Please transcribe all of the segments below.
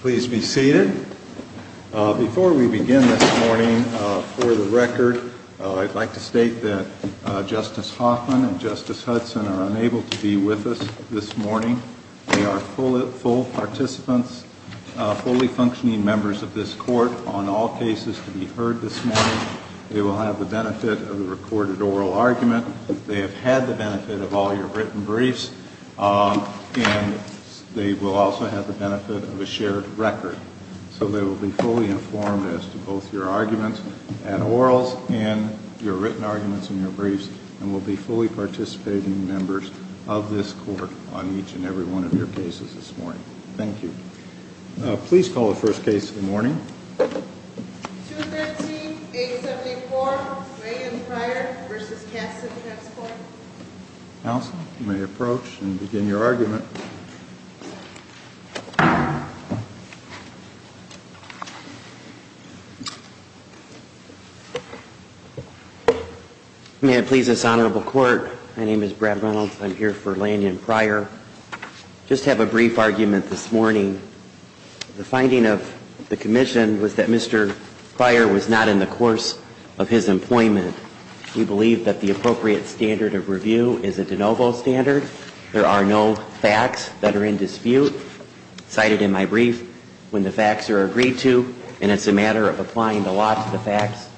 Please be seated. Before we begin this morning, for the record, I'd like to state that Justice Hoffman and Justice Hudson are unable to be with us this morning. They are full participants, fully functioning members of this court on all cases to be heard this morning. They will have the benefit of a recorded oral argument. They have had the benefit of all your written briefs. And they will also have the benefit of a shared record. So they will be fully informed as to both your arguments at orals and your written arguments and your briefs, and will be fully participating members of this court on each and every one of your cases this morning. Thank you. Please call the first case of the morning. 213-874 Ray and Pryor v. Castle Transport. Counsel, you may approach and begin your argument. May it please this honorable court, my name is Brad Reynolds. I'm here for Ray and Pryor. I just have a brief argument this morning. The finding of the commission was that Mr. Pryor was not in the course of his employment. We believe that the appropriate standard of review is a de novo standard. There are no facts that are in dispute. Cited in my brief, when the facts are agreed to, and it's a matter of applying the law to the facts,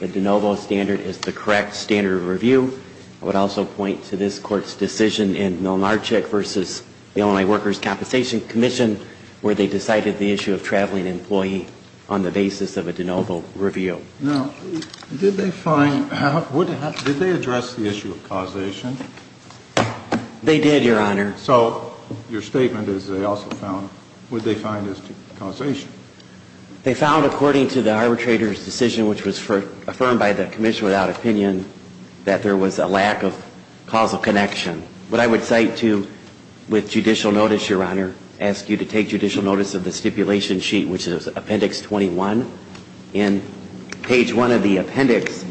the de novo standard is the correct standard of review. I would also point to this court's decision in Milnarczyk v. Illinois Workers' Compensation Commission where they decided the issue of traveling employee on the basis of a de novo review. Now, did they find, did they address the issue of causation? They did, Your Honor. So your statement is they also found, what did they find as to causation? They found according to the arbitrator's decision, which was affirmed by the commission without opinion, that there was a lack of causal connection. What I would cite to with judicial notice, Your Honor, ask you to take judicial notice of the stipulation sheet, which is appendix 21. In page 1 of the appendix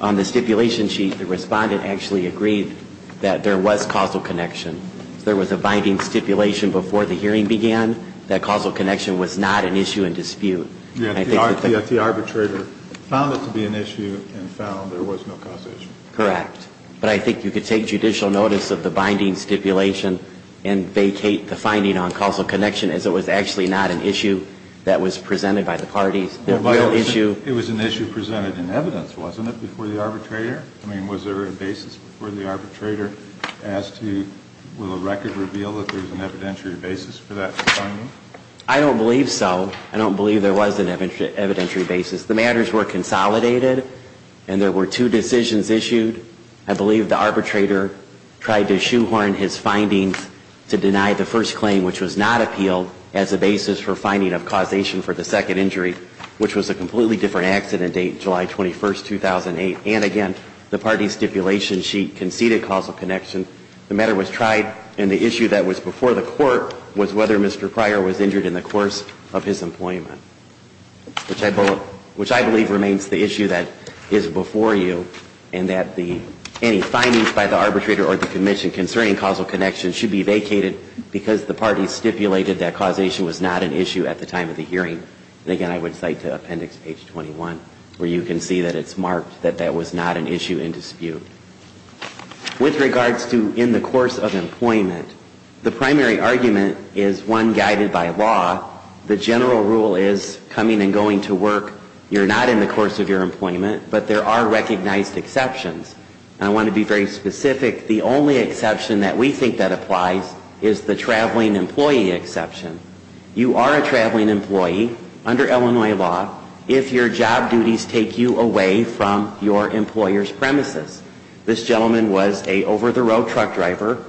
on the stipulation sheet, the respondent actually agreed that there was causal connection. There was a binding stipulation before the hearing began that causal connection was not an issue in dispute. The arbitrator found it to be an issue and found there was no causation. Correct. But I think you could take judicial notice of the binding stipulation and vacate the finding on causal connection as it was actually not an issue that was presented by the parties. It was an issue presented in evidence, wasn't it, before the arbitrator? I mean, was there a basis before the arbitrator as to will a record reveal that there was an evidentiary basis for that finding? I don't believe so. I don't believe there was an evidentiary basis. The matters were consolidated, and there were two decisions issued. I believe the arbitrator tried to shoehorn his findings to deny the first claim, which was not appealed, as a basis for finding of causation for the second injury, which was a completely different accident date, July 21, 2008. And again, the parties' stipulation sheet conceded causal connection. The matter was tried, and the issue that was before the court was whether Mr. Pryor was injured in the course of his employment. Which I believe remains the issue that is before you, and that any findings by the arbitrator or the commission concerning causal connection should be vacated because the parties stipulated that causation was not an issue at the time of the hearing. And again, I would cite to appendix page 21, where you can see that it's marked that that was not an issue in dispute. With regards to in the course of employment, the primary argument is one guided by law. The general rule is coming and going to work, you're not in the course of your employment, but there are recognized exceptions. And I want to be very specific. The only exception that we think that applies is the traveling employee exception. You are a traveling employee under Illinois law if your job duties take you away from your employer's premises. This gentleman was an over-the-road truck driver.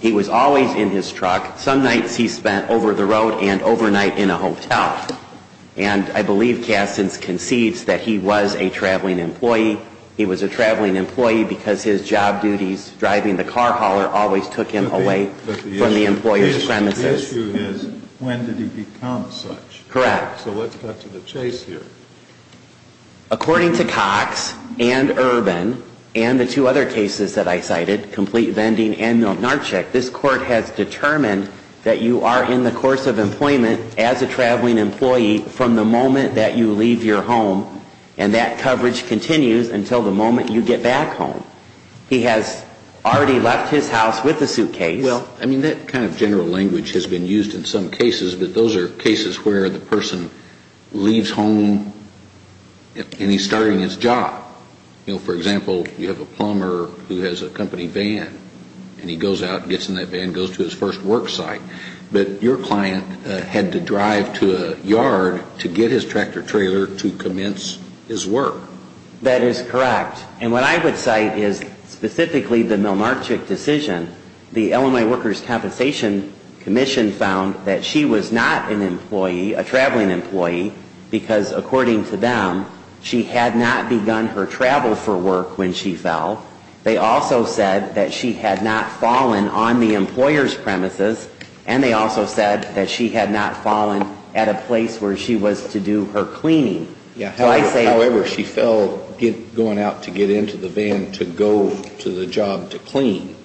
He was always in his truck. Some nights he spent over-the-road and overnight in a hotel. And I believe Kastins concedes that he was a traveling employee. He was a traveling employee because his job duties driving the car hauler always took him away from the employer's premises. But the issue is, when did he become such? Correct. So let's cut to the chase here. According to Cox and Urban and the two other cases that I cited, Complete Vending and Milnarczyk, this court has determined that you are in the course of employment as a traveling employee from the moment that you leave your home, and that coverage continues until the moment you get back home. He has already left his house with a suitcase. Well, I mean, that kind of general language has been used in some cases, but those are cases where the person leaves home and he's starting his job. You know, for example, you have a plumber who has a company van. And he goes out and gets in that van and goes to his first work site. But your client had to drive to a yard to get his tractor-trailer to commence his work. That is correct. And what I would cite is specifically the Milnarczyk decision. The Illinois Workers' Compensation Commission found that she was not an employee, a traveling employee, because according to them, she had not begun her travel for work when she fell. They also said that she had not fallen on the employer's premises, and they also said that she had not fallen at a place where she was to do her cleaning. However, she fell going out to get into the van to go to the job to clean,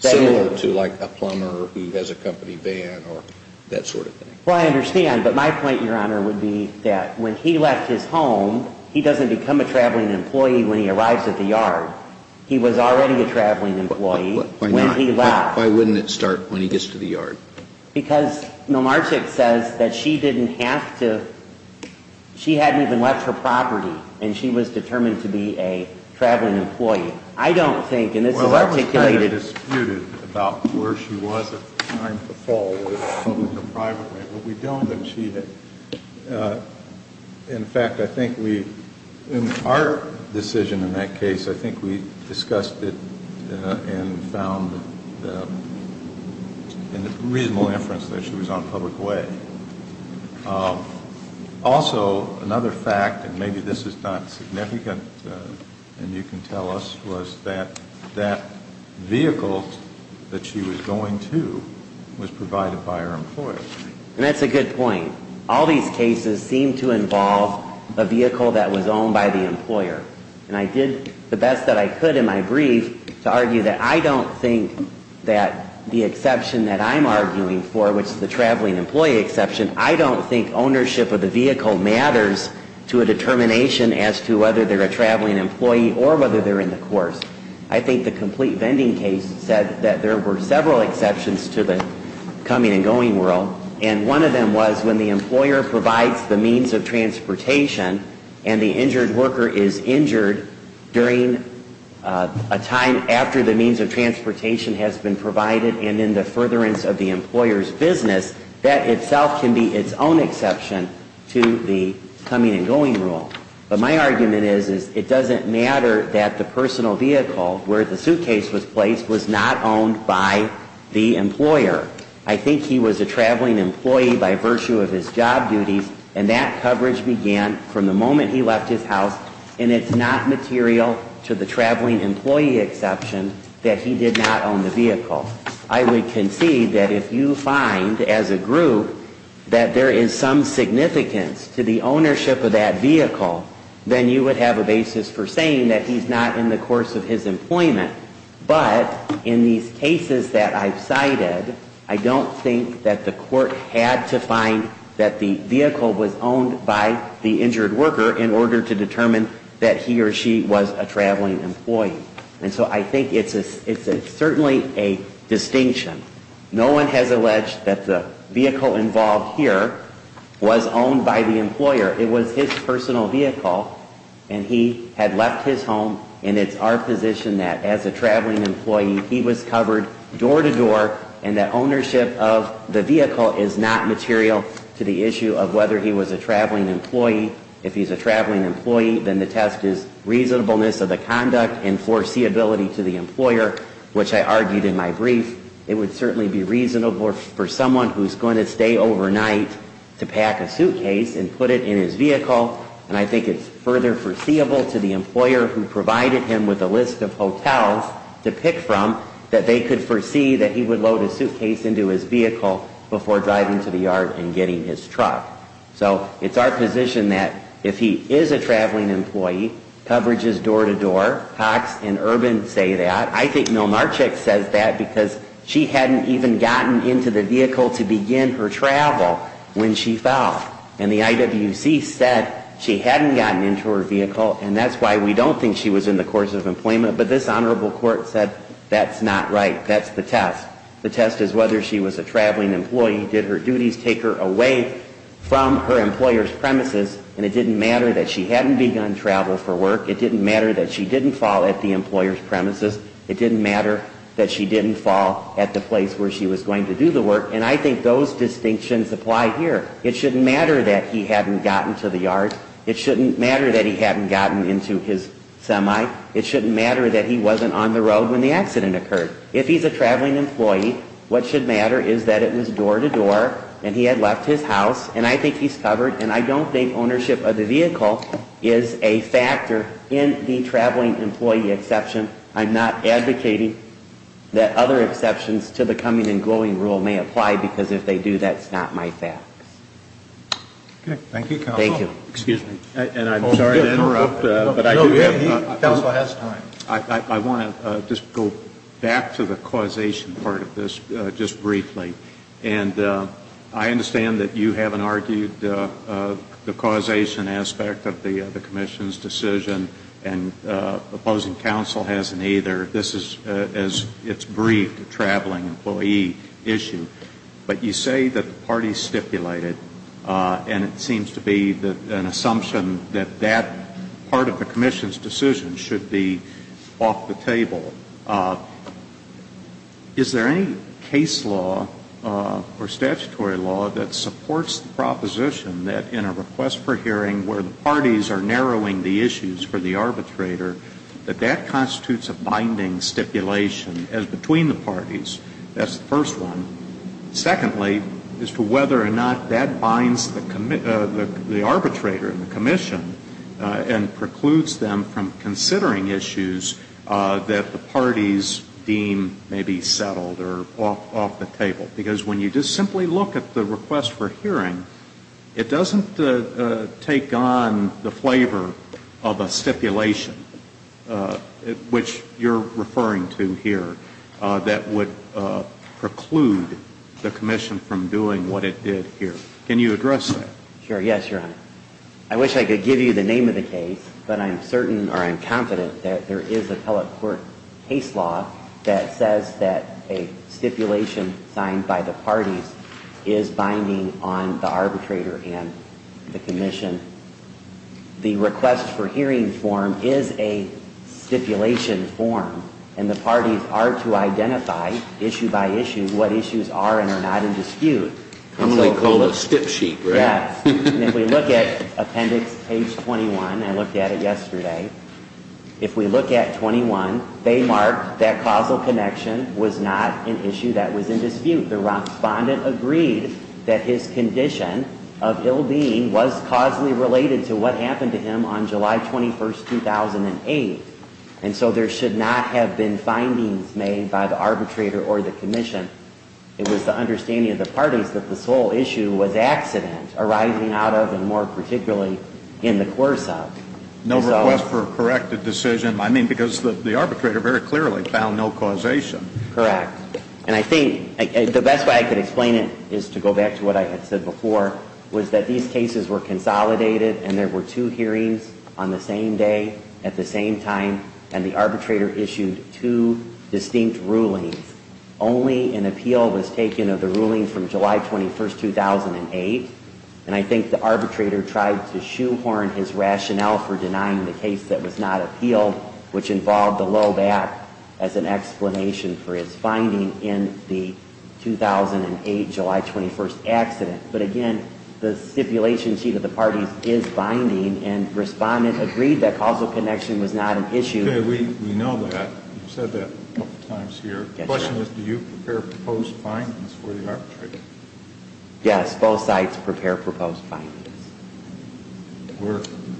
similar to, like, a plumber who has a company van or that sort of thing. Well, I understand, but my point, Your Honor, would be that when he left his home, he doesn't become a traveling employee when he arrives at the yard. He was already a traveling employee when he left. Why wouldn't it start when he gets to the yard? Because Milnarczyk says that she didn't have toóshe hadn't even left her property, and she was determined to be a traveling employee. I don't thinkóand this is articulatedó In fact, I think weóin our decision in that case, I think we discussed it and found a reasonable inference that she was on a public way. Also, another factóand maybe this is not significant and you can tell usó was that that vehicle that she was going to was provided by her employer. And that's a good point. All these cases seem to involve a vehicle that was owned by the employer. And I did the best that I could in my brief to argue that I don't think that the exception that I'm arguing for, which is the traveling employee exception, I don't think ownership of the vehicle matters to a determination as to whether they're a traveling employee or whether they're in the course. I think the complete vending case said that there were several exceptions to the coming and going rule. And one of them was when the employer provides the means of transportation and the injured worker is injured during a time after the means of transportation has been provided and in the furtherance of the employer's business, that itself can be its own exception to the coming and going rule. But my argument is it doesn't matter that the personal vehicle where the suitcase was placed was not owned by the employer. I think he was a traveling employee by virtue of his job duties and that coverage began from the moment he left his house and it's not material to the traveling employee exception that he did not own the vehicle. I would concede that if you find, as a group, that there is some significance to the ownership of that vehicle, then you would have a basis for saying that he's not in the course of his employment. But in these cases that I've cited, I don't think that the court had to find that the vehicle was owned by the injured worker in order to determine that he or she was a traveling employee. And so I think it's certainly a distinction. No one has alleged that the vehicle involved here was owned by the employer. It was his personal vehicle and he had left his home and it's our position that, as a traveling employee, he was covered door to door and that ownership of the vehicle is not material to the issue of whether he was a traveling employee. If he's a traveling employee, then the test is reasonableness of the conduct and foreseeability to the employer, which I argued in my brief. It would certainly be reasonable for someone who's going to stay overnight to pack a suitcase and put it in his vehicle. And I think it's further foreseeable to the employer who provided him with a list of hotels to pick from that they could foresee that he would load a suitcase into his vehicle before driving to the yard and getting his truck. So it's our position that if he is a traveling employee, coverage is door to door. Cox and Urban say that. I think Milnarczyk says that because she hadn't even gotten into the vehicle to begin her travel when she fell. And the IWC said she hadn't gotten into her vehicle and that's why we don't think she was in the course of employment. But this Honorable Court said that's not right. That's the test. The test is whether she was a traveling employee. Did her duties take her away from her employer's premises? And it didn't matter that she hadn't begun travel for work. It didn't matter that she didn't fall at the employer's premises. It didn't matter that she didn't fall at the place where she was going to do the work. And I think those distinctions apply here. It shouldn't matter that he hadn't gotten to the yard. It shouldn't matter that he hadn't gotten into his semi. It shouldn't matter that he wasn't on the road when the accident occurred. If he's a traveling employee, what should matter is that it was door to door and he had left his house, and I think he's covered. And I don't think ownership of the vehicle is a factor in the traveling employee exception. I'm not advocating that other exceptions to the coming and going rule may apply because if they do, that's not my facts. Okay. Thank you, Counsel. Thank you. Excuse me. And I'm sorry to interrupt, but I do think the Counsel has time. I want to just go back to the causation part of this just briefly. And I understand that you haven't argued the causation aspect of the Commission's decision, and opposing counsel hasn't either. This is, as it's briefed, a traveling employee issue. But you say that the parties stipulated, and it seems to be an assumption that that part of the Commission's decision should be off the table. Is there any case law or statutory law that supports the proposition that in a request for hearing where the parties are narrowing the issues for the arbitrator, that that constitutes a binding stipulation as between the parties? That's the first one. Secondly, as to whether or not that binds the arbitrator and the Commission and precludes them from considering issues that the parties deem may be settled or off the table. Because when you just simply look at the request for hearing, it doesn't take on the flavor of a stipulation, which you're referring to here, that would preclude the Commission from doing what it did here. Can you address that? Sure. Yes, Your Honor. I wish I could give you the name of the case, but I'm certain or I'm confident that there is a telecourt case law that says that a stipulation signed by the parties is binding on the arbitrator and the Commission. The request for hearing form is a stipulation form, and the parties are to identify, issue by issue, what issues are and are not in dispute. I'm going to call it a stip sheet, right? Yes. And if we look at appendix page 21, I looked at it yesterday, if we look at 21, they mark that causal connection was not an issue that was in dispute. The respondent agreed that his condition of ill-being was causally related to what happened to him on July 21, 2008. And so there should not have been findings made by the arbitrator or the Commission. It was the understanding of the parties that this whole issue was accident arising out of and more particularly in the course of. No request for a corrected decision, I mean, because the arbitrator very clearly found no causation. Correct. And I think the best way I can explain it is to go back to what I had said before, was that these cases were consolidated and there were two hearings on the same day at the same time, and the arbitrator issued two distinct rulings. Only an appeal was taken of the ruling from July 21, 2008, and I think the arbitrator tried to shoehorn his rationale for denying the case that was not appealed, which involved a low back as an explanation for his finding in the 2008 July 21 accident. But again, the stipulation sheet of the parties is binding, and Respondent agreed that causal connection was not an issue. Okay, we know that. You've said that a couple times here. Yes, sir. The question is, do you prepare proposed findings for the arbitrator? Yes, both sides prepare proposed findings.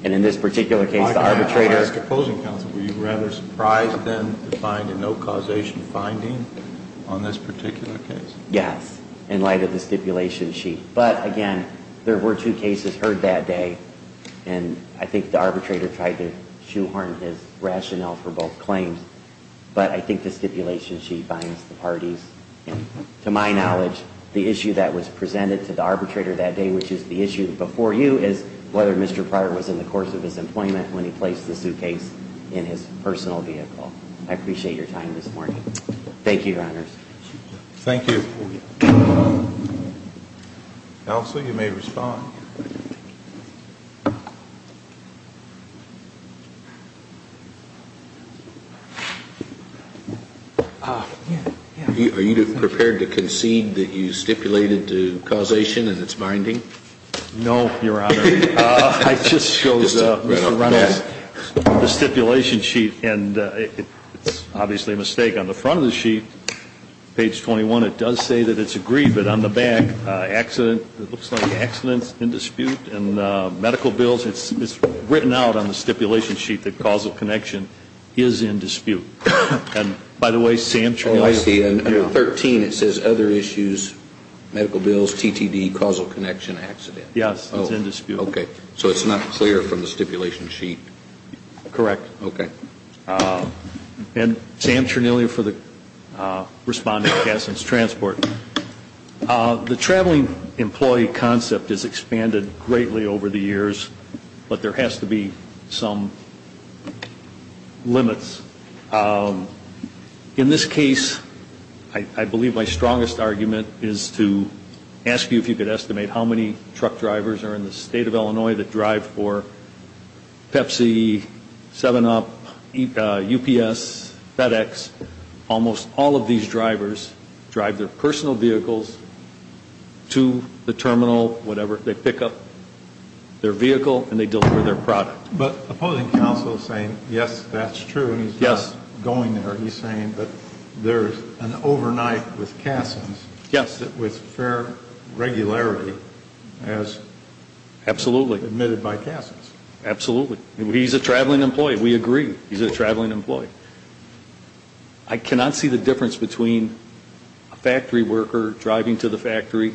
And in this particular case, the arbitrator. I'll ask opposing counsel, were you rather surprised then to find a no causation finding on this particular case? Yes, in light of the stipulation sheet. But again, there were two cases heard that day, and I think the arbitrator tried to shoehorn his rationale for both claims. But I think the stipulation sheet binds the parties. And to my knowledge, the issue that was presented to the arbitrator that day, which is the issue before you, is whether Mr. Pryor was in the course of his employment when he placed the suitcase in his personal vehicle. I appreciate your time this morning. Thank you, Your Honors. Thank you. Counsel, you may respond. Are you prepared to concede that you stipulated the causation and its binding? No, Your Honor. I just showed Mr. Reynolds the stipulation sheet, and it's obviously a mistake. On the front of the sheet, page 21, it does say that it's agreed, but on the back, accident, it looks like accidents, in dispute, and medical bills. It's written out on the stipulation sheet that causal connection is in dispute. And, by the way, Sam Chernilya. Oh, I see. Under 13, it says other issues, medical bills, TTD, causal connection, accident. Yes, it's in dispute. Okay. So it's not clear from the stipulation sheet? Correct. Okay. And Sam Chernilya for the responding to Cassin's transport. The traveling employee concept has expanded greatly over the years, but there has to be some limits. In this case, I believe my strongest argument is to ask you if you could estimate how many truck drivers are in the state of Illinois that drive for Pepsi, 7-Up, UPS, FedEx. Almost all of these drivers drive their personal vehicles to the terminal, whatever. They pick up their vehicle, and they deliver their product. But opposing counsel is saying, yes, that's true. Yes. He's not going there. He's saying that there's an overnight with Cassin's. Yes. With fair regularity. Absolutely. Admitted by Cassin's. Absolutely. He's a traveling employee. We agree. He's a traveling employee. I cannot see the difference between a factory worker driving to the factory,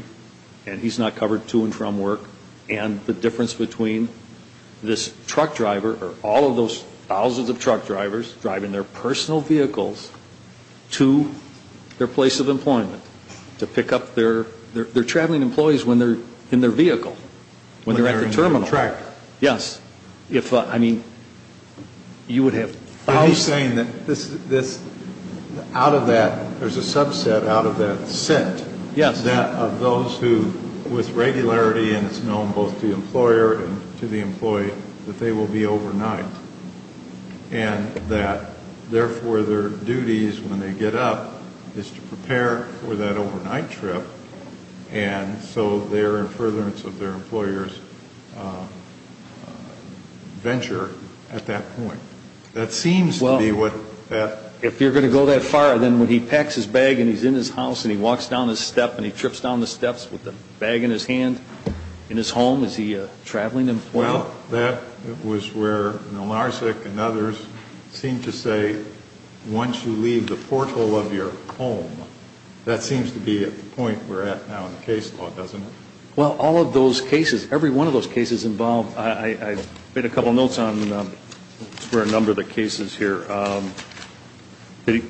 and he's not covered to and from work, and the difference between this truck driver or all of those thousands of truck drivers driving their personal vehicles to their place of employment to pick up their, they're traveling employees when they're in their vehicle, when they're at the terminal. When they're in the tractor. Yes. If, I mean, you would have. He's saying that this, out of that, there's a subset out of that set. Yes. That of those who, with regularity, and it's known both to the employer and to the employee, that they will be overnight. And that, therefore, their duties when they get up is to prepare for that overnight trip, and so they're in furtherance of their employer's venture at that point. That seems to be what that. Well, if you're going to go that far, then when he packs his bag and he's in his house and he walks down the step and he trips down the steps with the bag in his hand in his home, is he a traveling employee? Well, that was where Olnarsik and others seemed to say, once you leave the porthole of your home, that seems to be at the point we're at now in the case law, doesn't it? Well, all of those cases, every one of those cases involved, I made a couple notes on a number of the cases here.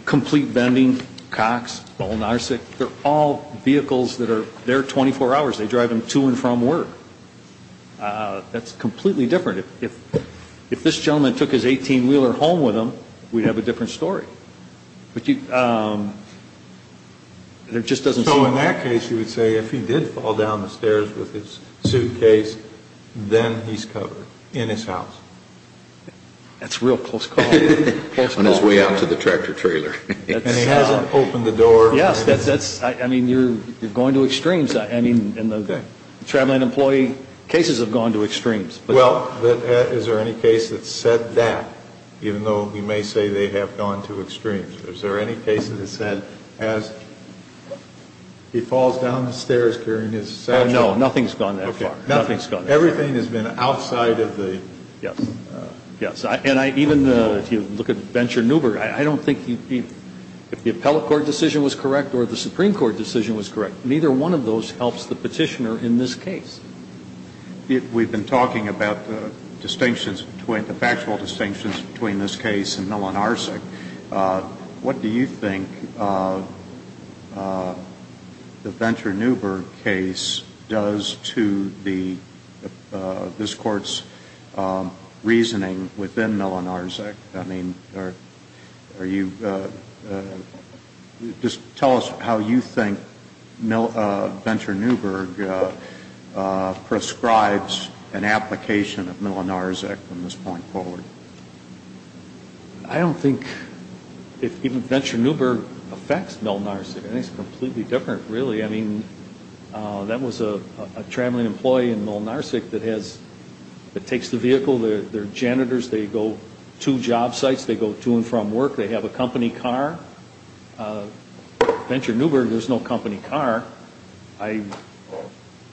Complete vending, Cox, Olnarsik, they're all vehicles that are there 24 hours. They drive them to and from work. That's completely different. If this gentleman took his 18-wheeler home with him, we'd have a different story. So in that case, you would say if he did fall down the stairs with his suitcase, then he's covered in his house. That's a real close call. On his way out to the tractor-trailer. And he hasn't opened the door. Yes, that's, I mean, you're going to extremes. I mean, in the traveling employee cases have gone to extremes. Well, is there any case that said that, even though you may say they have gone to extremes? Is there any case that said as he falls down the stairs carrying his satchel? No, nothing's gone that far. Nothing's gone that far. Everything has been outside of the... Yes, yes. And even if you look at Venture Newberg, I don't think if the appellate court decision was correct or the Supreme Court decision was correct, neither one of those helps the petitioner in this case. We've been talking about the distinctions, the factual distinctions between this case and Milonarczyk. What do you think the Venture Newberg case does to this Court's reasoning within Milonarczyk? I mean, are you, just tell us how you think Venture Newberg prescribes an application of Milonarczyk from this point forward. I don't think if even Venture Newberg affects Milonarczyk. I think it's completely different, really. I mean, that was a traveling employee in Milonarczyk that has, that takes the vehicle, they're janitors, they go to job sites, they go to and from work, they have a company car. Venture Newberg, there's no company car. I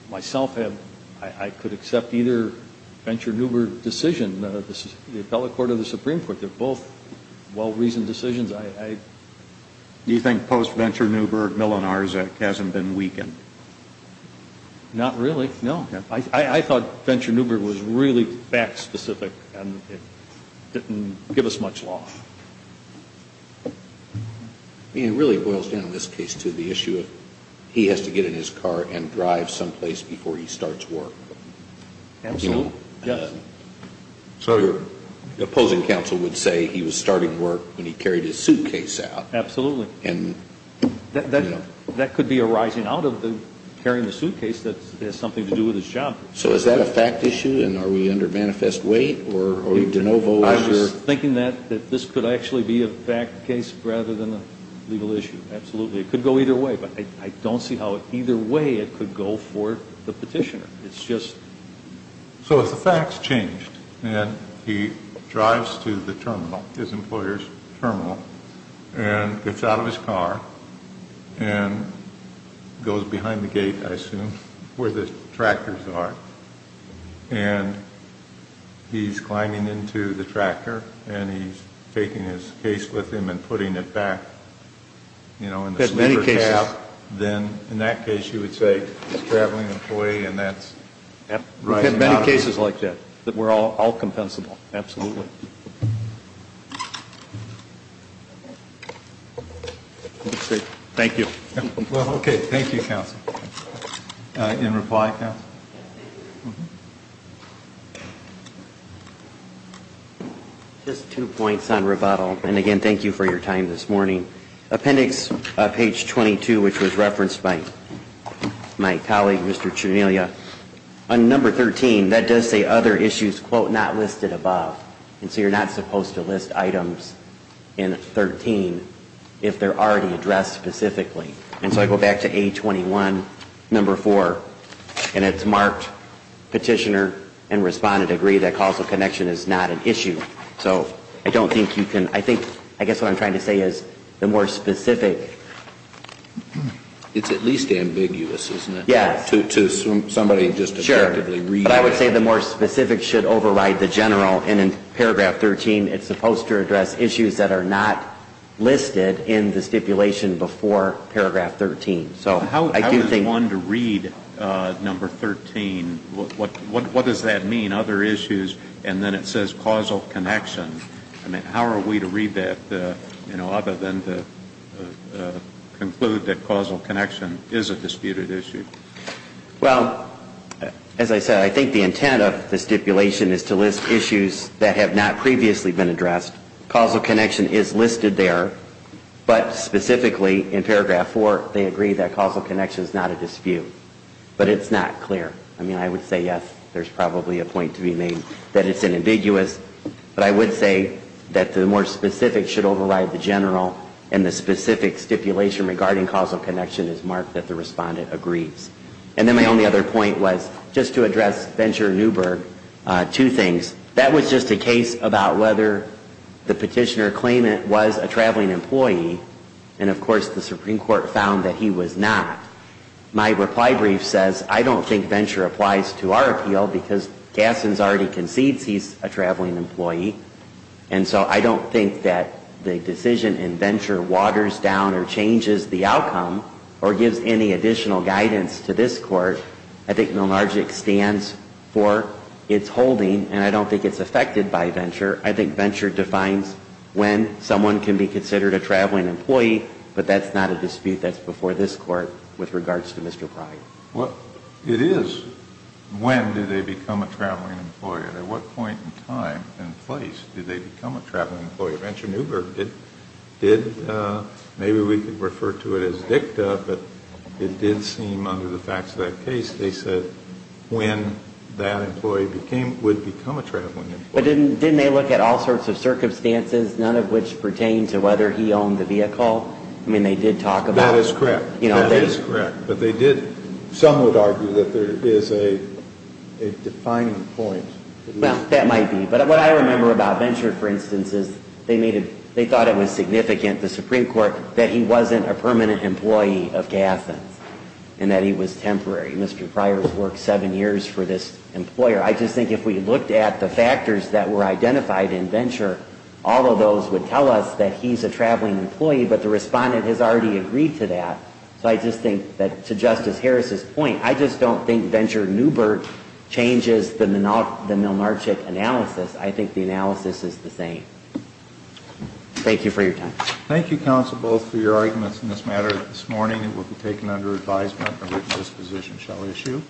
myself have, I could accept either Venture Newberg decision, the appellate court or the Supreme Court. They're both well-reasoned decisions. Do you think post-Venture Newberg, Milonarczyk hasn't been weakened? Not really, no. I thought Venture Newberg was really fact-specific and didn't give us much loss. I mean, it really boils down in this case to the issue of he has to get in his car and drive someplace before he starts work. Absolutely, yes. So your opposing counsel would say he was starting work when he carried his suitcase out. Absolutely. That could be a rising out of the carrying the suitcase that has something to do with his job. So is that a fact issue and are we under manifest weight or are you de novo? I was thinking that this could actually be a fact case rather than a legal issue, absolutely. It could go either way, but I don't see how either way it could go for the petitioner. So if the facts changed and he drives to the terminal, his employer's terminal, and gets out of his car and goes behind the gate, I assume, where the tractors are, and he's climbing into the tractor and he's taking his case with him and putting it back in the slipper cab, then in that case you would say he's a traveling employee and that's rising out of it. We've had many cases like that that were all compensable. Absolutely. Thank you. Well, okay, thank you, counsel. In reply, counsel? Just two points on rebuttal, and again, thank you for your time this morning. Appendix page 22, which was referenced by my colleague, Mr. Cianiglia, on number 13, that does say other issues, quote, not listed above. And so you're not supposed to list items in 13 if they're already addressed specifically. And so I go back to A21, number 4, and it's marked petitioner and respondent agree that causal connection is not an issue. So I don't think you can, I think, I guess what I'm trying to say is the more specific. It's at least ambiguous, isn't it? Yes. To somebody just objectively reading it. Sure. But I would say the more specific should override the general. And in paragraph 13, it's supposed to address issues that are not listed in the stipulation before paragraph 13. How is one to read number 13? What does that mean, other issues? And then it says causal connection. I mean, how are we to read that, you know, other than to conclude that causal connection is a disputed issue? Well, as I said, I think the intent of the stipulation is to list issues that have not previously been addressed. Causal connection is listed there, but specifically in paragraph 4, they agree that causal connection is not a dispute. But it's not clear. I mean, I would say, yes, there's probably a point to be made that it's an ambiguous. But I would say that the more specific should override the general, and the specific stipulation regarding causal connection is marked that the respondent agrees. And then my only other point was, just to address Venture and Newberg, two things. That was just a case about whether the petitioner claimed it was a traveling employee. And, of course, the Supreme Court found that he was not. My reply brief says, I don't think Venture applies to our appeal because Gasson's already concedes he's a traveling employee. And so I don't think that the decision in Venture waters down or changes the outcome or gives any additional guidance to this Court. I think Milnergic stands for its holding, and I don't think it's affected by Venture. I think Venture defines when someone can be considered a traveling employee, but that's not a dispute that's before this Court with regards to Mr. Pryor. It is. When do they become a traveling employee? At what point in time and place do they become a traveling employee? Venture and Newberg did. Maybe we could refer to it as dicta, but it did seem under the facts of that case they said when that employee would become a traveling employee. But didn't they look at all sorts of circumstances, none of which pertain to whether he owned the vehicle? I mean, they did talk about it. That is correct. That is correct. But they did somewhat argue that there is a defining point. Well, that might be. But what I remember about Venture, for instance, is they thought it was significant to the Supreme Court that he wasn't a permanent employee of Gathens and that he was temporary. Mr. Pryor's worked seven years for this employer. I just think if we looked at the factors that were identified in Venture, all of those would tell us that he's a traveling employee, but the respondent has already agreed to that. So I just think that to Justice Harris's point, I just don't think Venture and Newberg changes the Milnarchik analysis. I think the analysis is the same. Thank you for your time. Thank you, counsel, both for your arguments in this matter. This morning it will be taken under advisement and written disposition shall issue.